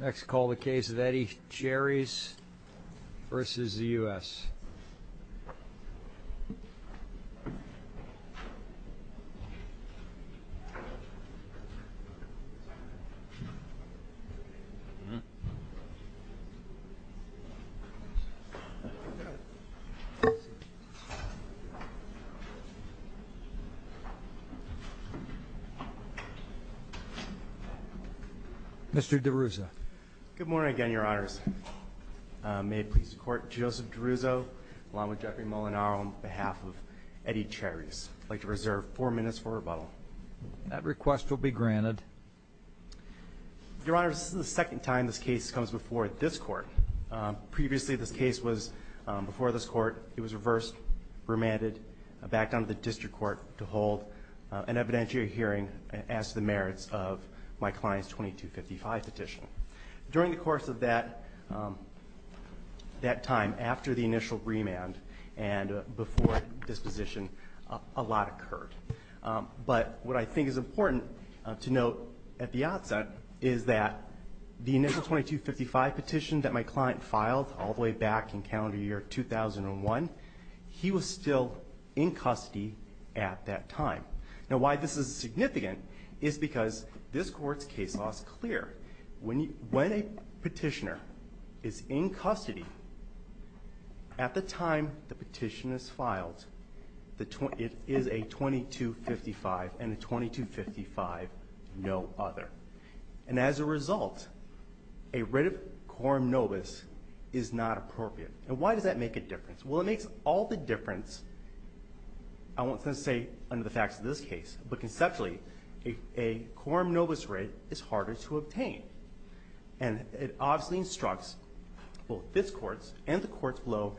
Next call the case of Eddie Cherys v. U.S. Mr. DeRuzo. Good morning again, Your Honors. May it please the Court, Joseph DeRuzo, along with Jeffrey Molinaro, on behalf of Eddie Cherys. I'd like to reserve four minutes for rebuttal. That request will be granted. Your Honors, this is the second time this case comes before this Court. Previously, this case was before this Court. It was reversed, remanded, backed onto the District Court to hold an evidentiary hearing as to the merits of my client's 2255 petition. During the course of that time, after the initial remand and before disposition, a lot occurred. But what I think is important to note at the outset is that the initial 2255 petition that my client filed all the way back in calendar year 2001, he was still in custody at that time. Now, why this is significant is because this Court's case law is clear. When a petitioner is in custody, at the time the petition is filed, it is a 2255 and a 2255, no other. And as a result, a writ of quorum nobis is not appropriate. And why does that make a difference? Well, it makes all the difference, I won't say, under the facts of this case. But conceptually, a quorum nobis writ is harder to obtain. And it obviously instructs both this Court's and the Courts below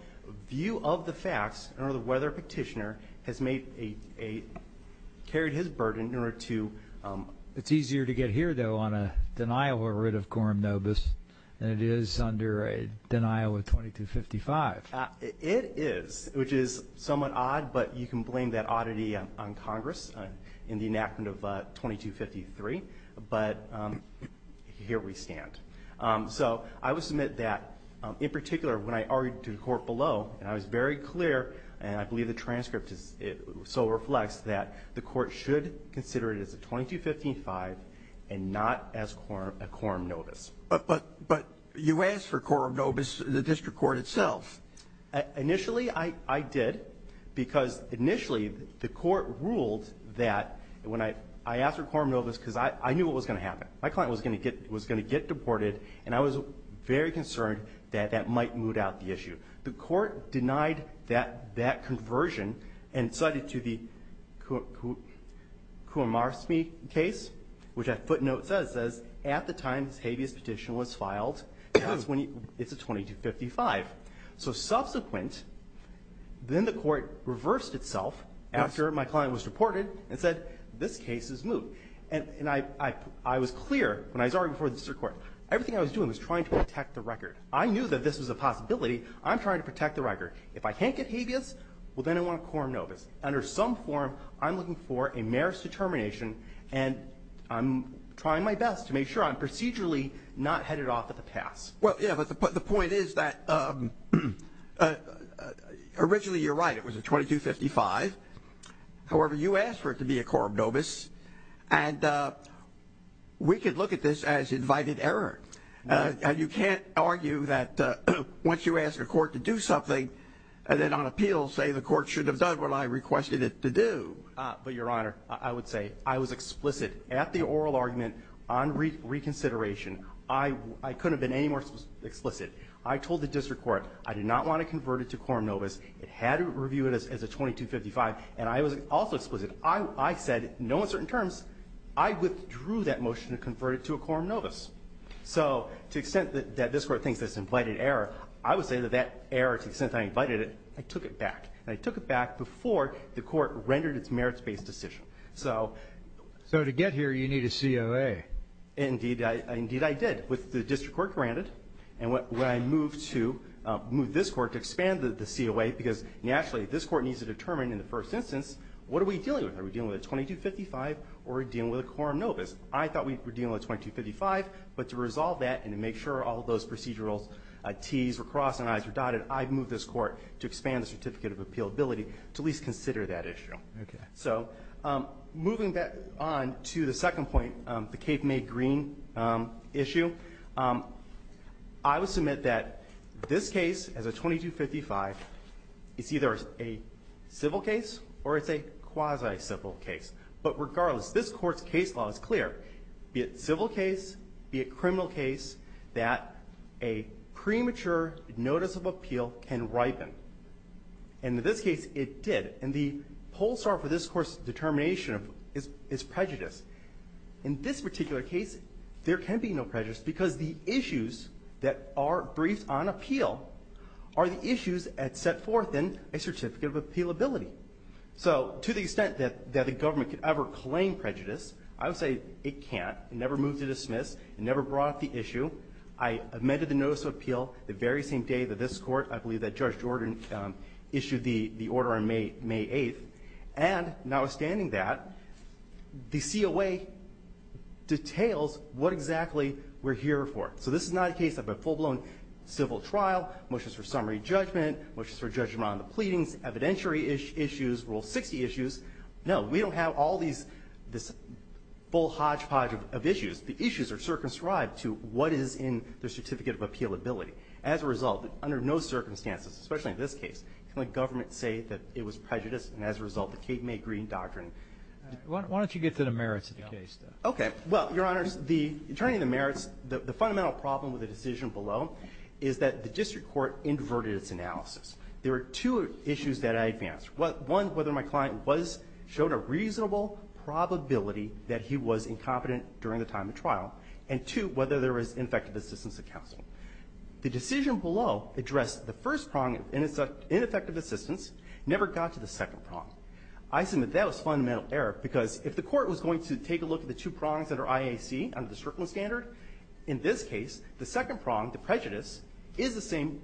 view of the facts in order to whether a petitioner has carried his burden in order to... It is, which is somewhat odd, but you can blame that oddity on Congress in the enactment of 2253. But here we stand. So I would submit that, in particular, when I argued to the Court below, and I was very clear, and I believe the transcript so reflects that the Court should consider it as a 2255 and not as a quorum nobis. But you asked for quorum nobis in the District Court itself. Initially I did, because initially the Court ruled that when I asked for quorum nobis because I knew what was going to happen. My client was going to get deported, and I was very concerned that that might moot out the issue. The Court denied that conversion and cited to the Coomarsmi case, which that footnote says, at the time this habeas petition was filed, and that's when it's a 2255. So subsequent, then the Court reversed itself after my client was deported and said this case is moot. And I was clear when I was arguing before the District Court, everything I was doing was trying to protect the record. I knew that this was a possibility. I'm trying to protect the record. If I can't get habeas, well, then I want a quorum nobis. Under some form, I'm looking for a merits determination, and I'm trying my best to make sure I'm procedurally not headed off at the pass. Well, yeah, but the point is that originally you're right. It was a 2255. However, you asked for it to be a quorum nobis, and we could look at this as invited error. You can't argue that once you ask a court to do something and then on appeal say the court should have done what I requested it to do. But, Your Honor, I would say I was explicit at the oral argument on reconsideration. I couldn't have been any more explicit. I told the District Court I did not want to convert it to quorum nobis. It had to review it as a 2255, and I was also explicit. I said, no uncertain terms, I withdrew that motion to convert it to a quorum nobis. So to the extent that this Court thinks it's an invited error, I would say that that error, to the extent that I invited it, I took it back. And I took it back before the Court rendered its merits-based decision. So to get here, you need a COA. Indeed, I did, with the District Court granted. And when I moved to move this Court to expand the COA, because, naturally, this Court needs to determine in the first instance what are we dealing with. Are we dealing with a 2255, or are we dealing with a quorum nobis? I thought we were dealing with a 2255. But to resolve that and to make sure all of those procedural Ts were crossed and Is were dotted, I moved this Court to expand the certificate of appealability to at least consider that issue. Roberts. Okay. So moving back on to the second point, the Cape May Green issue, I would submit that this case, as a 2255, is either a civil case or it's a quasi-civil case. But regardless, this Court's case law is clear. Be it civil case, be it criminal case, that a premature notice of appeal can ripen. And in this case, it did. And the pole star for this Court's determination is prejudice. In this particular case, there can be no prejudice because the issues that are briefed on appeal are the issues set forth in a certificate of appealability. So to the extent that the government could ever claim prejudice, I would say it can't. It never moved to dismiss. It never brought up the issue. I amended the notice of appeal the very same day that this Court, I believe, that Judge Jordan issued the order on May 8th. And notwithstanding that, the COA details what exactly we're here for. So this is not a case of a full-blown civil trial, motions for summary judgment, motions for judgment on the pleadings, evidentiary issues, Rule 60 issues. No. We don't have all these full hodgepodge of issues. The issues are circumscribed to what is in the certificate of appealability. As a result, under no circumstances, especially in this case, can the government say that it was prejudice and as a result the Kate May Green Doctrine. Roberts. Why don't you get to the merits of the case, then? Okay. Well, Your Honors, the attorney, the merits, the fundamental problem with the decision below is that the district court inverted its analysis. There are two issues that I advance. One, whether my client was, showed a reasonable probability that he was incompetent during the time of trial, and two, whether there was ineffective assistance of counsel. The decision below addressed the first prong, and it's ineffective assistance, never got to the second prong. I submit that was fundamental error, because if the court was going to take a look at the two prongs under IAC, under the circling standard, in this case, the second prong, the prejudice, is the same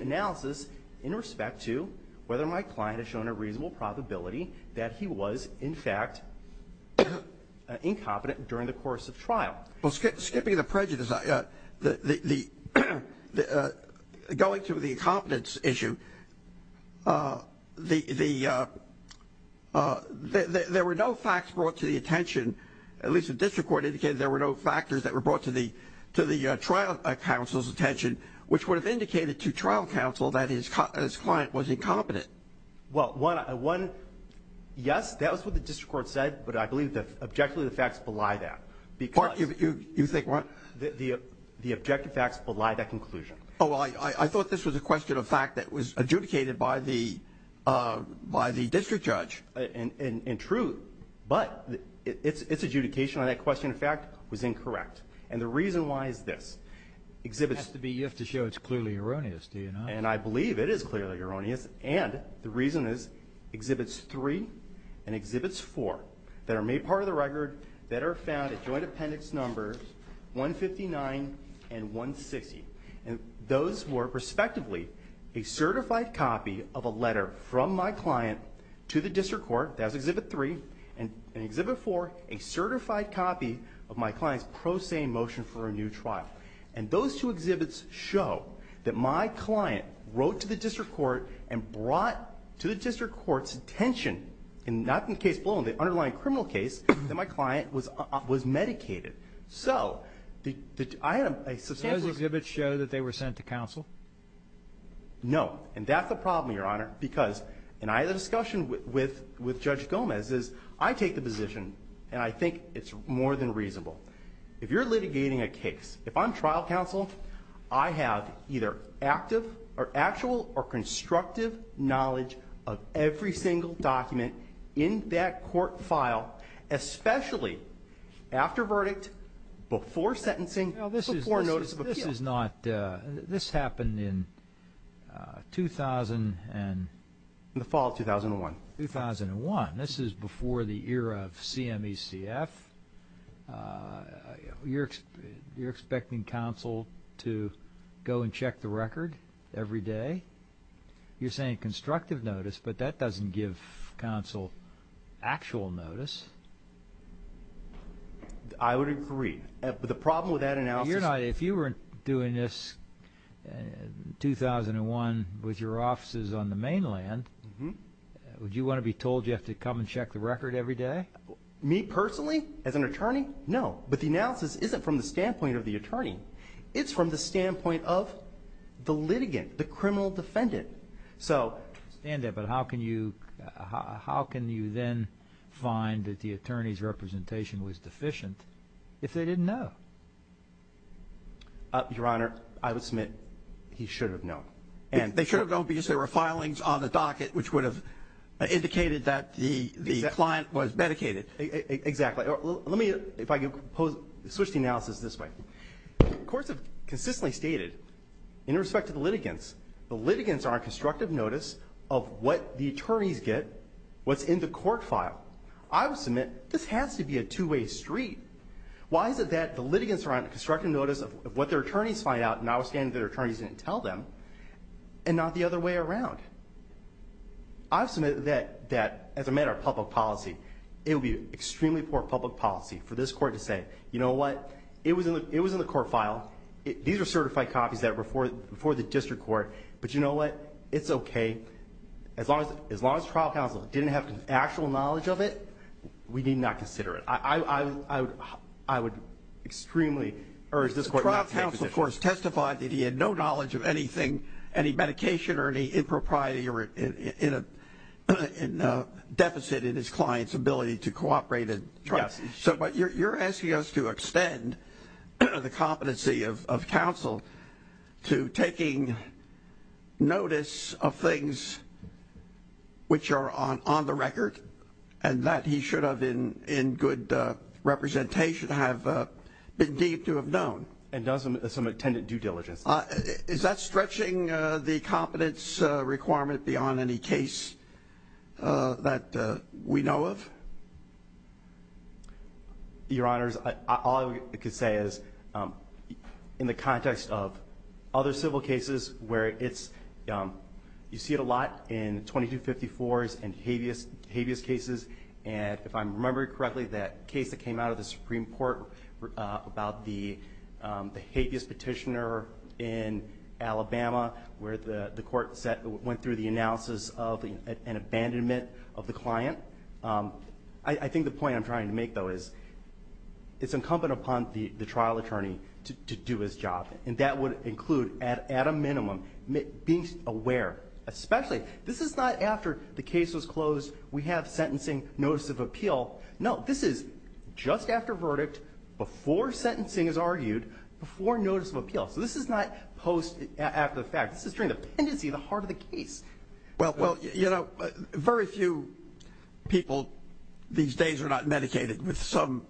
analysis in respect to whether my client has shown a reasonable probability that he was, in fact, incompetent during the course of trial. Well, skipping the prejudice, going to the incompetence issue, there were no facts brought to the attention, at least the district court indicated there were no factors that were brought to the trial counsel's attention, which would have indicated to trial counsel that his client was incompetent. Well, one, yes, that was what the district court said, but I believe objectively the facts belie that, because You think what? The objective facts belie that conclusion. Oh, I thought this was a question of fact that was adjudicated by the district judge. And true, but its adjudication on that question of fact was incorrect. And the reason why is this. It has to be, you have to show it's clearly erroneous, do you not? And I believe it is clearly erroneous, and the reason is Exhibits 3 and Exhibits 4 that are made part of the record that are found at Joint Appendix Numbers 159 and 160. And those were respectively a certified copy of a letter from my client to the district court, that was Exhibit 3, and in Exhibit 4, a certified copy of my client's pro se motion for a new trial. And those two exhibits show that my client wrote to the district court and brought to the district court's attention, not in the case below, in the underlying criminal case, that my client was medicated. So I have a substantial ---- Those exhibits show that they were sent to counsel? No. And that's the problem, Your Honor, because, and I had a discussion with Judge Gomez, is I take the position, and I think it's more than reasonable. If you're litigating a case, if I'm trial counsel, I have either active or actual or constructive knowledge of every single document in that court file, especially after verdict, before sentencing, before notice of appeal. Now, this is not ---- this happened in 2000 and ---- In the fall of 2001. 2001. This is before the era of CMECF. You're expecting counsel to go and check the record every day? You're saying constructive notice, but that doesn't give counsel actual notice. I would agree. But the problem with that analysis ---- Your Honor, if you were doing this in 2001 with your offices on the mainland, would you want to be told you have to come and check the record every day? Me personally, as an attorney, no. But the analysis isn't from the standpoint of the attorney. It's from the standpoint of the litigant, the criminal defendant. So ---- I understand that, but how can you then find that the attorney's representation was deficient if they didn't know? Your Honor, I would submit he should have known. They should have known because there were filings on the docket, which would have indicated that the client was medicated. Exactly. Let me, if I can switch the analysis this way. Courts have consistently stated, in respect to the litigants, the litigants are on constructive notice of what the attorneys get, what's in the court file. I would submit this has to be a two-way street. Why is it that the litigants are on constructive notice of what their attorneys find out, notwithstanding that their attorneys didn't tell them, and not the other way around? I would submit that, as a matter of public policy, it would be extremely poor public policy for this court to say, you know what, it was in the court file. These are certified copies that were before the district court. But you know what, it's okay. As long as trial counsel didn't have actual knowledge of it, we need not consider it. I would extremely urge this court not to take position. Trial counsel, of course, testified that he had no knowledge of anything, any medication or any impropriety or deficit in his client's ability to cooperate. But you're asking us to extend the competency of counsel to taking notice of things which are on the record and that he should have, in good representation, have been deemed to have known. And does some attendant due diligence. Is that stretching the competence requirement beyond any case that we know of? Your Honors, all I can say is, in the context of other civil cases where it's, you see it a lot in 2254s and habeas cases. And if I'm remembering correctly, that case that came out of the Supreme Court about the habeas petitioner in Alabama, where the court went through the analysis of an abandonment of the client. I think the point I'm trying to make, though, is it's incumbent upon the trial attorney to do his job. And that would include, at a minimum, being aware. Especially, this is not after the case was closed. We have sentencing, notice of appeal. No, this is just after verdict, before sentencing is argued, before notice of appeal. So this is not post after the fact. This is during the pendency, the heart of the case. Well, you know, very few people these days are not medicated with some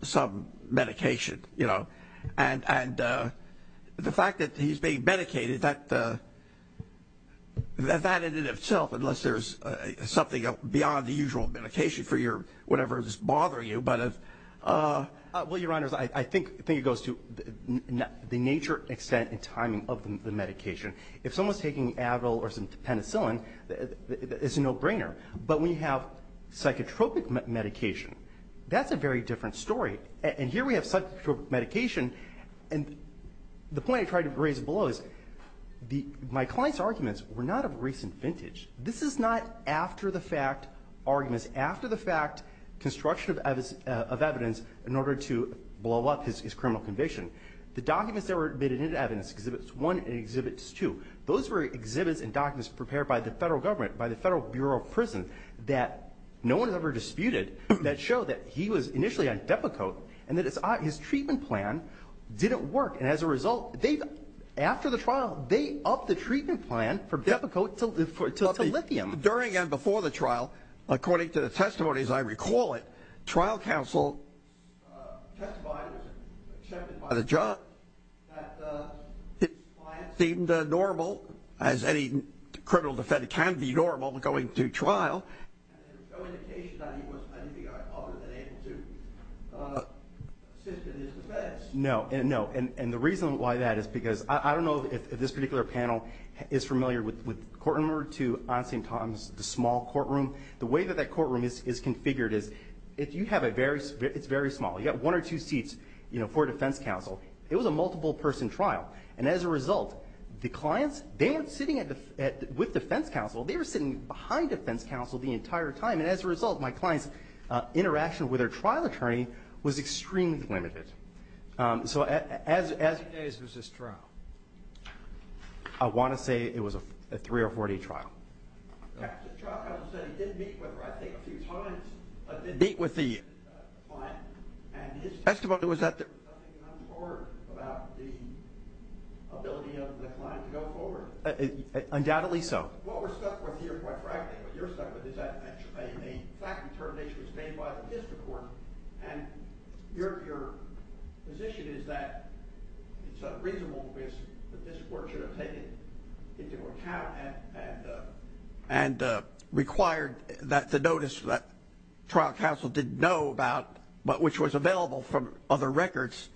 medication, you know. And the fact that he's being medicated, that in and of itself, unless there's something beyond the usual medication for your whatever is bothering you. Well, Your Honors, I think it goes to the nature, extent, and timing of the medication. If someone's taking Advil or some penicillin, it's a no-brainer. But when you have psychotropic medication, that's a very different story. And here we have psychotropic medication. And the point I tried to raise below is my client's arguments were not of recent vintage. This is not after-the-fact arguments, after-the-fact construction of evidence in order to blow up his criminal conviction. The documents that were admitted into evidence, Exhibits I and Exhibits II, those were exhibits and documents prepared by the Federal government, by the Federal Bureau of Prison that no one has ever disputed that show that he was initially on Depakote and that his treatment plan didn't work. And as a result, after the trial, they upped the treatment plan from Depakote to lithium. During and before the trial, according to the testimonies, I recall it, trial counsel testified and was accepted by the judge that his client seemed normal, as any criminal defendant can be normal going through trial. There's no indication that he was anything other than able to assist in his defense. No, no. And the reason why that is because I don't know if this particular panel is familiar with Courtroom No. 2 on St. Tom's, the small courtroom. The way that that courtroom is configured is you have a very, it's very small. You've got one or two seats for defense counsel. It was a multiple-person trial. And as a result, the clients, they weren't sitting with defense counsel. They were sitting behind defense counsel the entire time. And as a result, my client's interaction with her trial attorney was extremely limited. So as it is, it was this trial. I want to say it was a 3 or 4-day trial. The trial counsel said he did meet with her, I think, a few times. Meet with the client. And his testimony was that there was nothing untoward about the ability of the client to go forward. Undoubtedly so. What we're stuck with here, quite frankly, what you're stuck with is that a fact determination was made by the district court. And your position is that it's a reasonable risk that the district court should have taken into account and required that the notice that trial counsel didn't know about, but which was available from other records,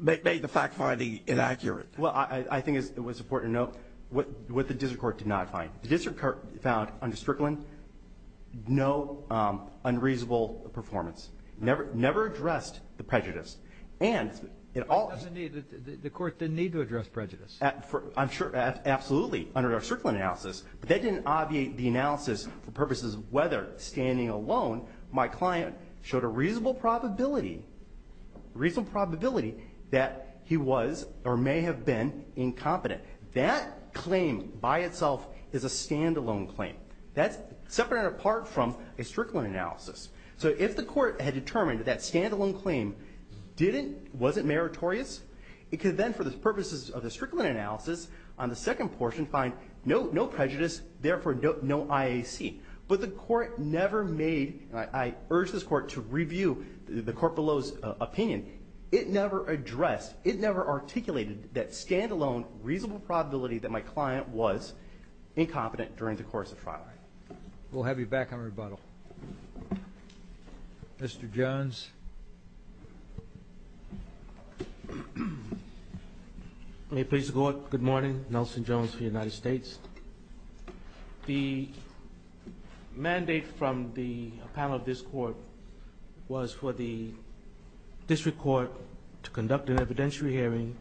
made the fact finding inaccurate. Well, I think it was important to note what the district court did not find. The district court found, under Strickland, no unreasonable performance. Never addressed the prejudice. And it all... The court didn't need to address prejudice. I'm sure, absolutely, under our Strickland analysis. But that didn't obviate the analysis for purposes of whether, standing alone, my client showed a reasonable probability that he was or may have been incompetent. That claim, by itself, is a stand-alone claim. That's separate and apart from a Strickland analysis. So if the court had determined that that stand-alone claim didn't, wasn't meritorious, it could then, for the purposes of the Strickland analysis on the second portion, find no prejudice, therefore no IAC. But the court never made, and I urge this court to review the court below's opinion, it never addressed, it never articulated that stand-alone reasonable probability that my client was incompetent during the course of trial. We'll have you back on rebuttal. Mr. Jones. May it please the Court, good morning. Nelson Jones for the United States. The mandate from the panel of this court was for the district court to conduct an evidentiary hearing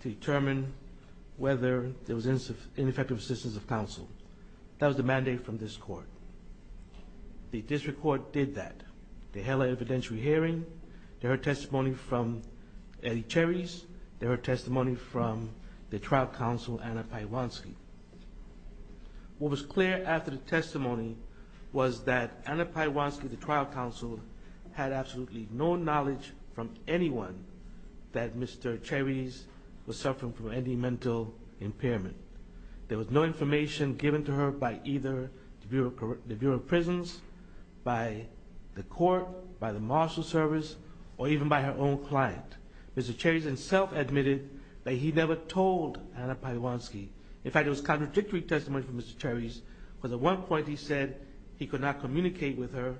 to determine whether there was ineffective assistance of counsel. That was the mandate from this court. The district court did that. They held an evidentiary hearing. They heard testimony from Eddie Cherries. They heard testimony from the trial counsel, Anna Pajwanski. What was clear after the testimony was that Anna Pajwanski, the trial counsel, had absolutely no knowledge from anyone that Mr. Cherries was suffering from any mental impairment. There was no information given to her by either the Bureau of Prisons, by the court, by the marshal service, or even by her own client. Mr. Cherries himself admitted that he never told Anna Pajwanski. In fact, it was contradictory testimony from Mr. Cherries, because at one point he said he could not communicate with her,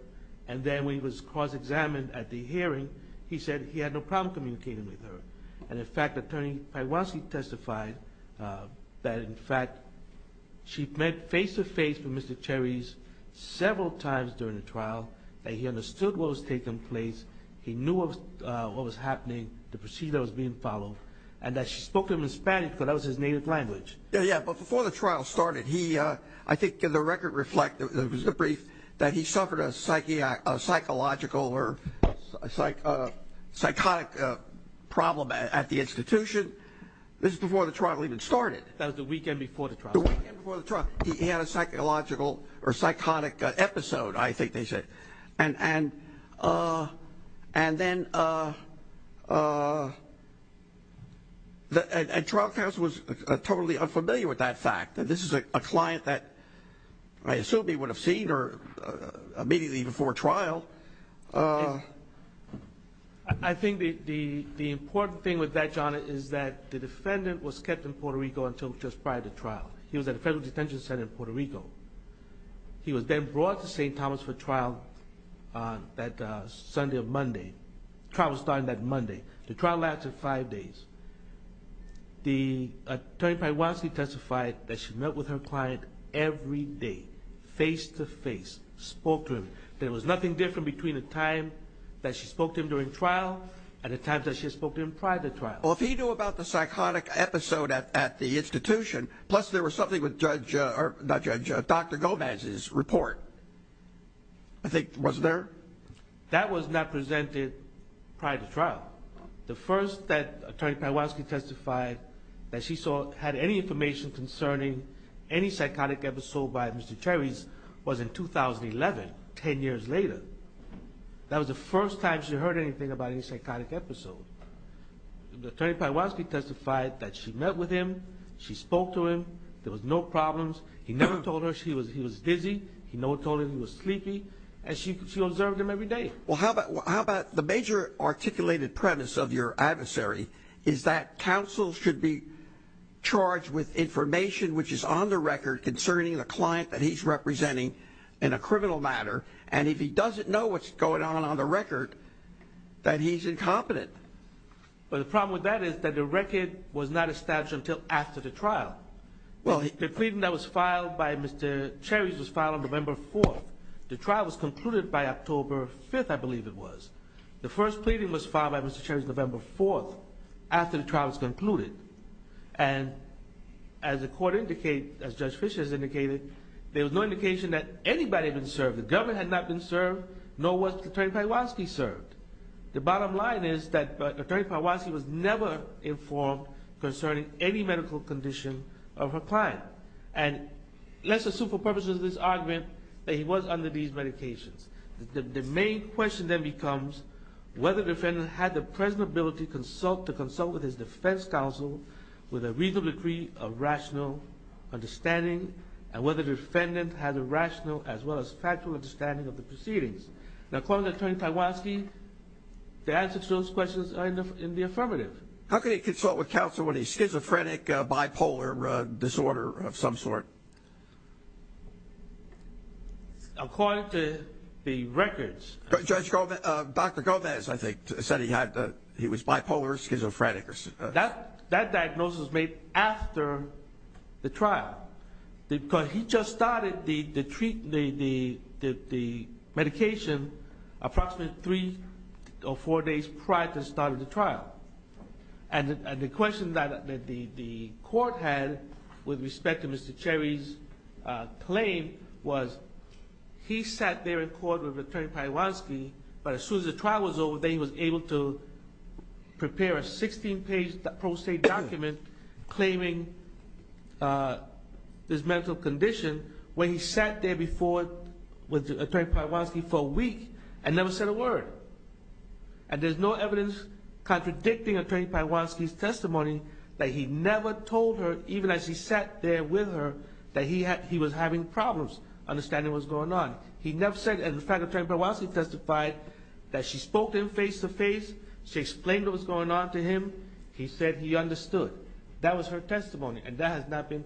and then when he was cross-examined at the hearing, he said he had no problem communicating with her. And, in fact, Attorney Pajwanski testified that, in fact, she met face-to-face with Mr. Cherries several times during the trial, that he understood what was taking place, he knew what was happening, the procedure was being followed, and that she spoke to him in Spanish, because that was his native language. Yeah, yeah, but before the trial started, I think the record reflects, it was a brief, that he suffered a psychological or psychotic problem at the institution. This was before the trial even started. That was the weekend before the trial. The weekend before the trial. He had a psychological or psychotic episode, I think they said. And then trial counsel was totally unfamiliar with that fact, that this is a client that I assume he would have seen her immediately before trial. I think the important thing with that, John, is that the defendant was kept in Puerto Rico until just prior to trial. He was then brought to St. Thomas for trial that Sunday or Monday. The trial was started that Monday. The trial lasted five days. Attorney Pajwanski testified that she met with her client every day, face-to-face, spoke to him. There was nothing different between the time that she spoke to him during trial and the time that she spoke to him prior to trial. Well, if he knew about the psychotic episode at the institution, plus there was something with Dr. Gomez's report, I think, wasn't there? That was not presented prior to trial. The first that Attorney Pajwanski testified that she had any information concerning any psychotic episode by Mr. Terry's was in 2011, 10 years later. That was the first time she heard anything about any psychotic episode. Attorney Pajwanski testified that she met with him, she spoke to him, there was no problems. He never told her he was dizzy. He never told her he was sleepy. And she observed him every day. Well, how about the major articulated premise of your adversary is that counsel should be charged with information which is on the record concerning the client that he's representing in a criminal matter, and if he doesn't know what's going on on the record, that he's incompetent. But the problem with that is that the record was not established until after the trial. The pleading that was filed by Mr. Terry's was filed on November 4th. The trial was concluded by October 5th, I believe it was. The first pleading was filed by Mr. Terry's November 4th after the trial was concluded. And as the court indicated, as Judge Fischer has indicated, there was no indication that anybody had been served. The government had not been served, nor was Attorney Pajwanski served. The bottom line is that Attorney Pajwanski was never informed concerning any medical condition of her client. And let's assume for purposes of this argument that he was under these medications. The main question then becomes whether the defendant had the present ability to consult with his defense counsel with a reasonable degree of rational understanding and whether the defendant had a rational as well as factual understanding of the proceedings. Now, according to Attorney Pajwanski, the answers to those questions are in the affirmative. How could he consult with counsel when he's schizophrenic, bipolar, disorder of some sort? According to the records. Dr. Govez, I think, said he was bipolar, schizophrenic. That diagnosis was made after the trial. Because he just started the medication approximately three or four days prior to the start of the trial. And the question that the court had with respect to Mr. Terry's claim was he sat there in court with Attorney Pajwanski, but as soon as the trial was over, then he was able to prepare a 16-page pro se document claiming this medical condition when he sat there before with Attorney Pajwanski for a week and never said a word. And there's no evidence contradicting Attorney Pajwanski's testimony that he never told her, even as he sat there with her, that he was having problems understanding what was going on. He never said. In fact, Attorney Pajwanski testified that she spoke to him face to face. She explained what was going on to him. He said he understood. That was her testimony, and that has not been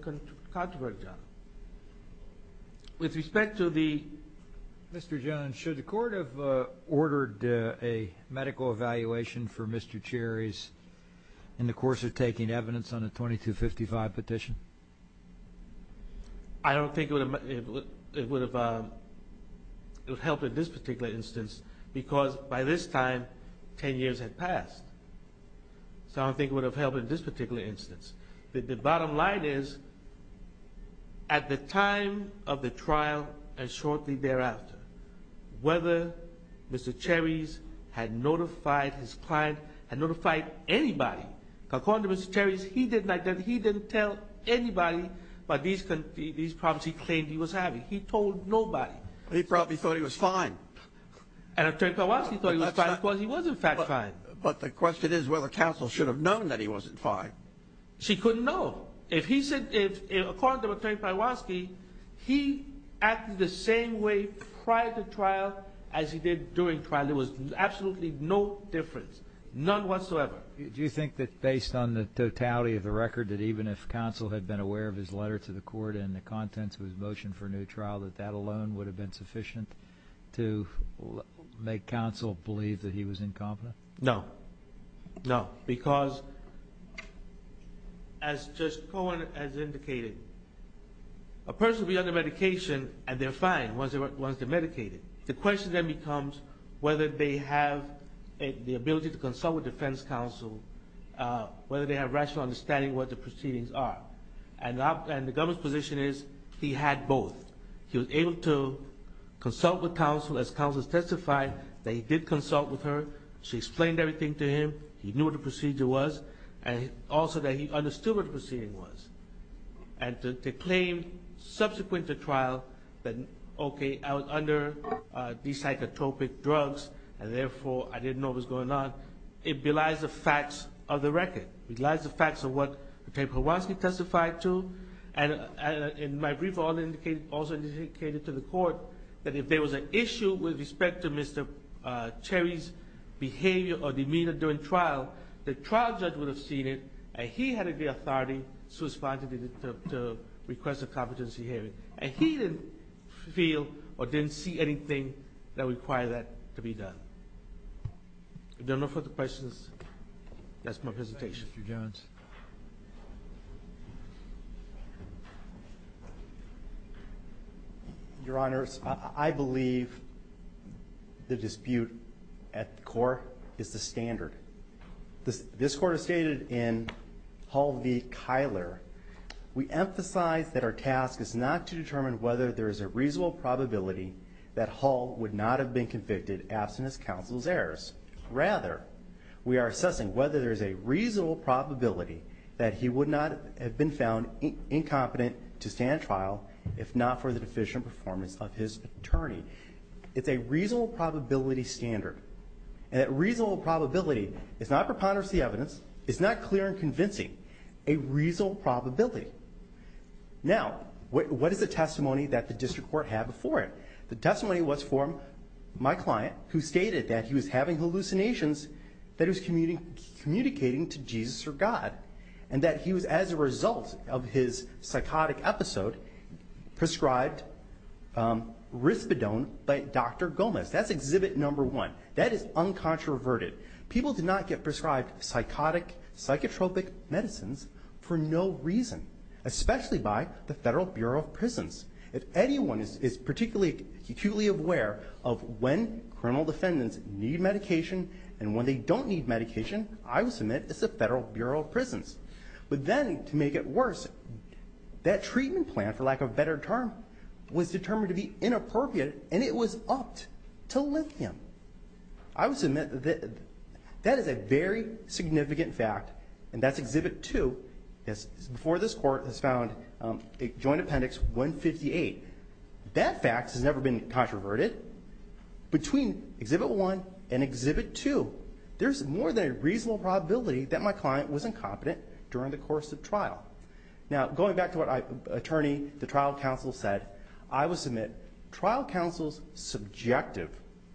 controversial. With respect to the ---- Mr. Jones, should the court have ordered a medical evaluation for Mr. Terry's in the course of taking evidence on the 2255 petition? I don't think it would have helped in this particular instance because by this time 10 years had passed. So I don't think it would have helped in this particular instance. The bottom line is at the time of the trial and shortly thereafter, whether Mr. Terry's had notified his client, had notified anybody, according to Mr. Terry's, he didn't tell anybody about these problems he claimed he was having. He told nobody. He probably thought he was fine. And Attorney Pajwanski thought he was fine because he was, in fact, fine. But the question is whether counsel should have known that he wasn't fine. She couldn't know. According to Attorney Pajwanski, he acted the same way prior to trial as he did during trial. There was absolutely no difference, none whatsoever. Do you think that based on the totality of the record, that even if counsel had been aware of his letter to the court and the contents of his motion for a new trial, that that alone would have been sufficient to make counsel believe that he was incompetent? No. No, because as Judge Cohen has indicated, a person will be under medication and they're fine once they're medicated. The question then becomes whether they have the ability to consult with defense counsel, whether they have rational understanding of what the proceedings are. And the government's position is he had both. He was able to consult with counsel as counsel testified that he did consult with her. She explained everything to him. He knew what the procedure was and also that he understood what the proceeding was. And to claim subsequent to trial that, okay, I was under these psychotropic drugs and therefore I didn't know what was going on, it belies the facts of the record. It belies the facts of what Attorney Pajwanski testified to. And my brief also indicated to the court that if there was an issue with respect to Mr. Cherry's behavior or demeanor during trial, the trial judge would have seen it and he had the authority to request a competency hearing. And he didn't feel or didn't see anything that required that to be done. If there are no further questions, that's my presentation. Thank you, Judge. Mr. Pajwanski. Your Honors, I believe the dispute at the court is the standard. This court has stated in Hull v. Kyler, we emphasize that our task is not to determine whether there is a reasonable probability that Hull would not have been convicted absent his counsel's errors. Rather, we are assessing whether there is a reasonable probability that he would not have been found incompetent to stand trial if not for the deficient performance of his attorney. It's a reasonable probability standard. And that reasonable probability is not preponderance of the evidence. It's not clear and convincing. A reasonable probability. Now, what is the testimony that the district court had before it? The testimony was from my client, who stated that he was having hallucinations, that he was communicating to Jesus or God, and that he was, as a result of his psychotic episode, prescribed rispidone by Dr. Gomez. That's exhibit number one. That is uncontroverted. People do not get prescribed psychotic, psychotropic medicines for no reason, especially by the Federal Bureau of Prisons. If anyone is particularly acutely aware of when criminal defendants need medication and when they don't need medication, I would submit it's the Federal Bureau of Prisons. But then, to make it worse, that treatment plan, for lack of a better term, was determined to be inappropriate, and it was upped to lithium. I would submit that that is a very significant fact, and that's exhibit two. Before this court has found a joint appendix 158. That fact has never been controverted. Between exhibit one and exhibit two, there's more than a reasonable probability that my client was incompetent during the course of trial. Now, going back to what the trial counsel said, I would submit trial counsel's subjective,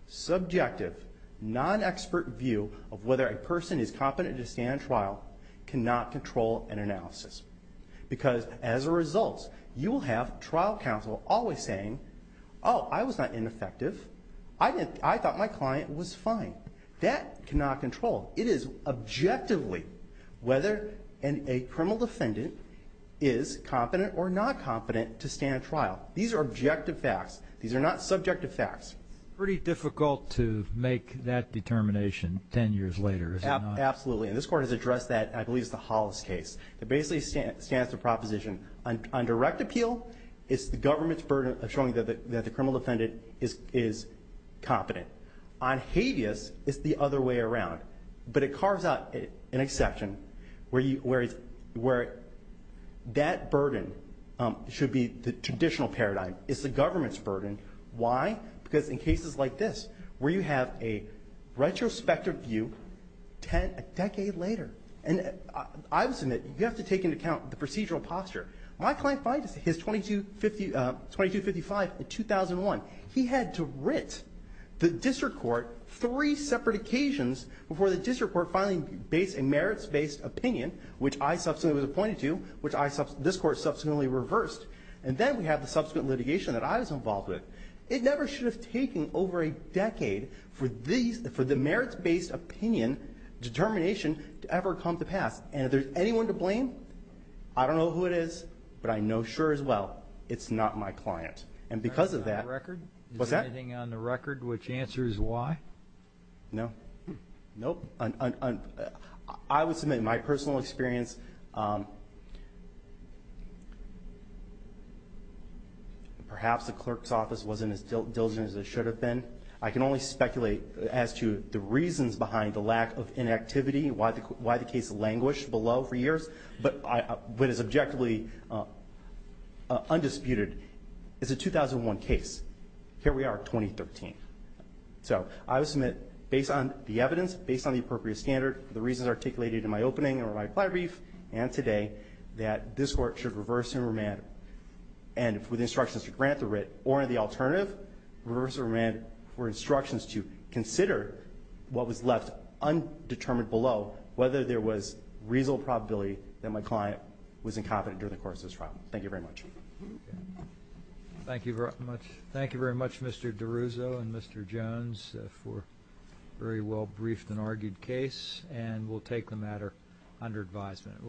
subjective, non-expert view of whether a person is competent to stand trial cannot control an analysis. Because, as a result, you will have trial counsel always saying, oh, I was not ineffective. I thought my client was fine. That cannot control. It is objectively whether a criminal defendant is competent or not competent to stand trial. These are objective facts. These are not subjective facts. It's pretty difficult to make that determination ten years later, is it not? Absolutely. And this Court has addressed that, and I believe it's the Hollis case. It basically stands to proposition on direct appeal, it's the government's burden of showing that the criminal defendant is competent. On habeas, it's the other way around. But it carves out an exception where that burden should be the traditional paradigm. It's the government's burden. Why? Because in cases like this where you have a retrospective view a decade later and I would submit you have to take into account the procedural posture. My client filed his 2255 in 2001. He had to writ the district court three separate occasions before the district court finally based a merits-based opinion, which I subsequently was appointed to, which this Court subsequently reversed. And then we have the subsequent litigation that I was involved with. It never should have taken over a decade for the merits-based opinion determination to ever come to pass. And if there's anyone to blame, I don't know who it is, but I know sure as well, it's not my client. And because of that, what's that? Is there anything on the record which answers why? No. Nope. I would submit my personal experience, perhaps the clerk's office wasn't as diligent as it should have been. I can only speculate as to the reasons behind the lack of inactivity, why the case languished below for years. But what is objectively undisputed is a 2001 case. Here we are at 2013. So I would submit, based on the evidence, based on the appropriate standard, the reasons articulated in my opening or my prior brief and today, that this Court should reverse and remand, and with instructions to grant the writ, or the alternative, reverse and remand for instructions to consider what was left undetermined below, whether there was reasonable probability that my client was incompetent during the course of this trial. Thank you very much. Thank you very much, Mr. DiRuso and Mr. Jones, for a very well-briefed and argued case. And we'll take the matter under advisement.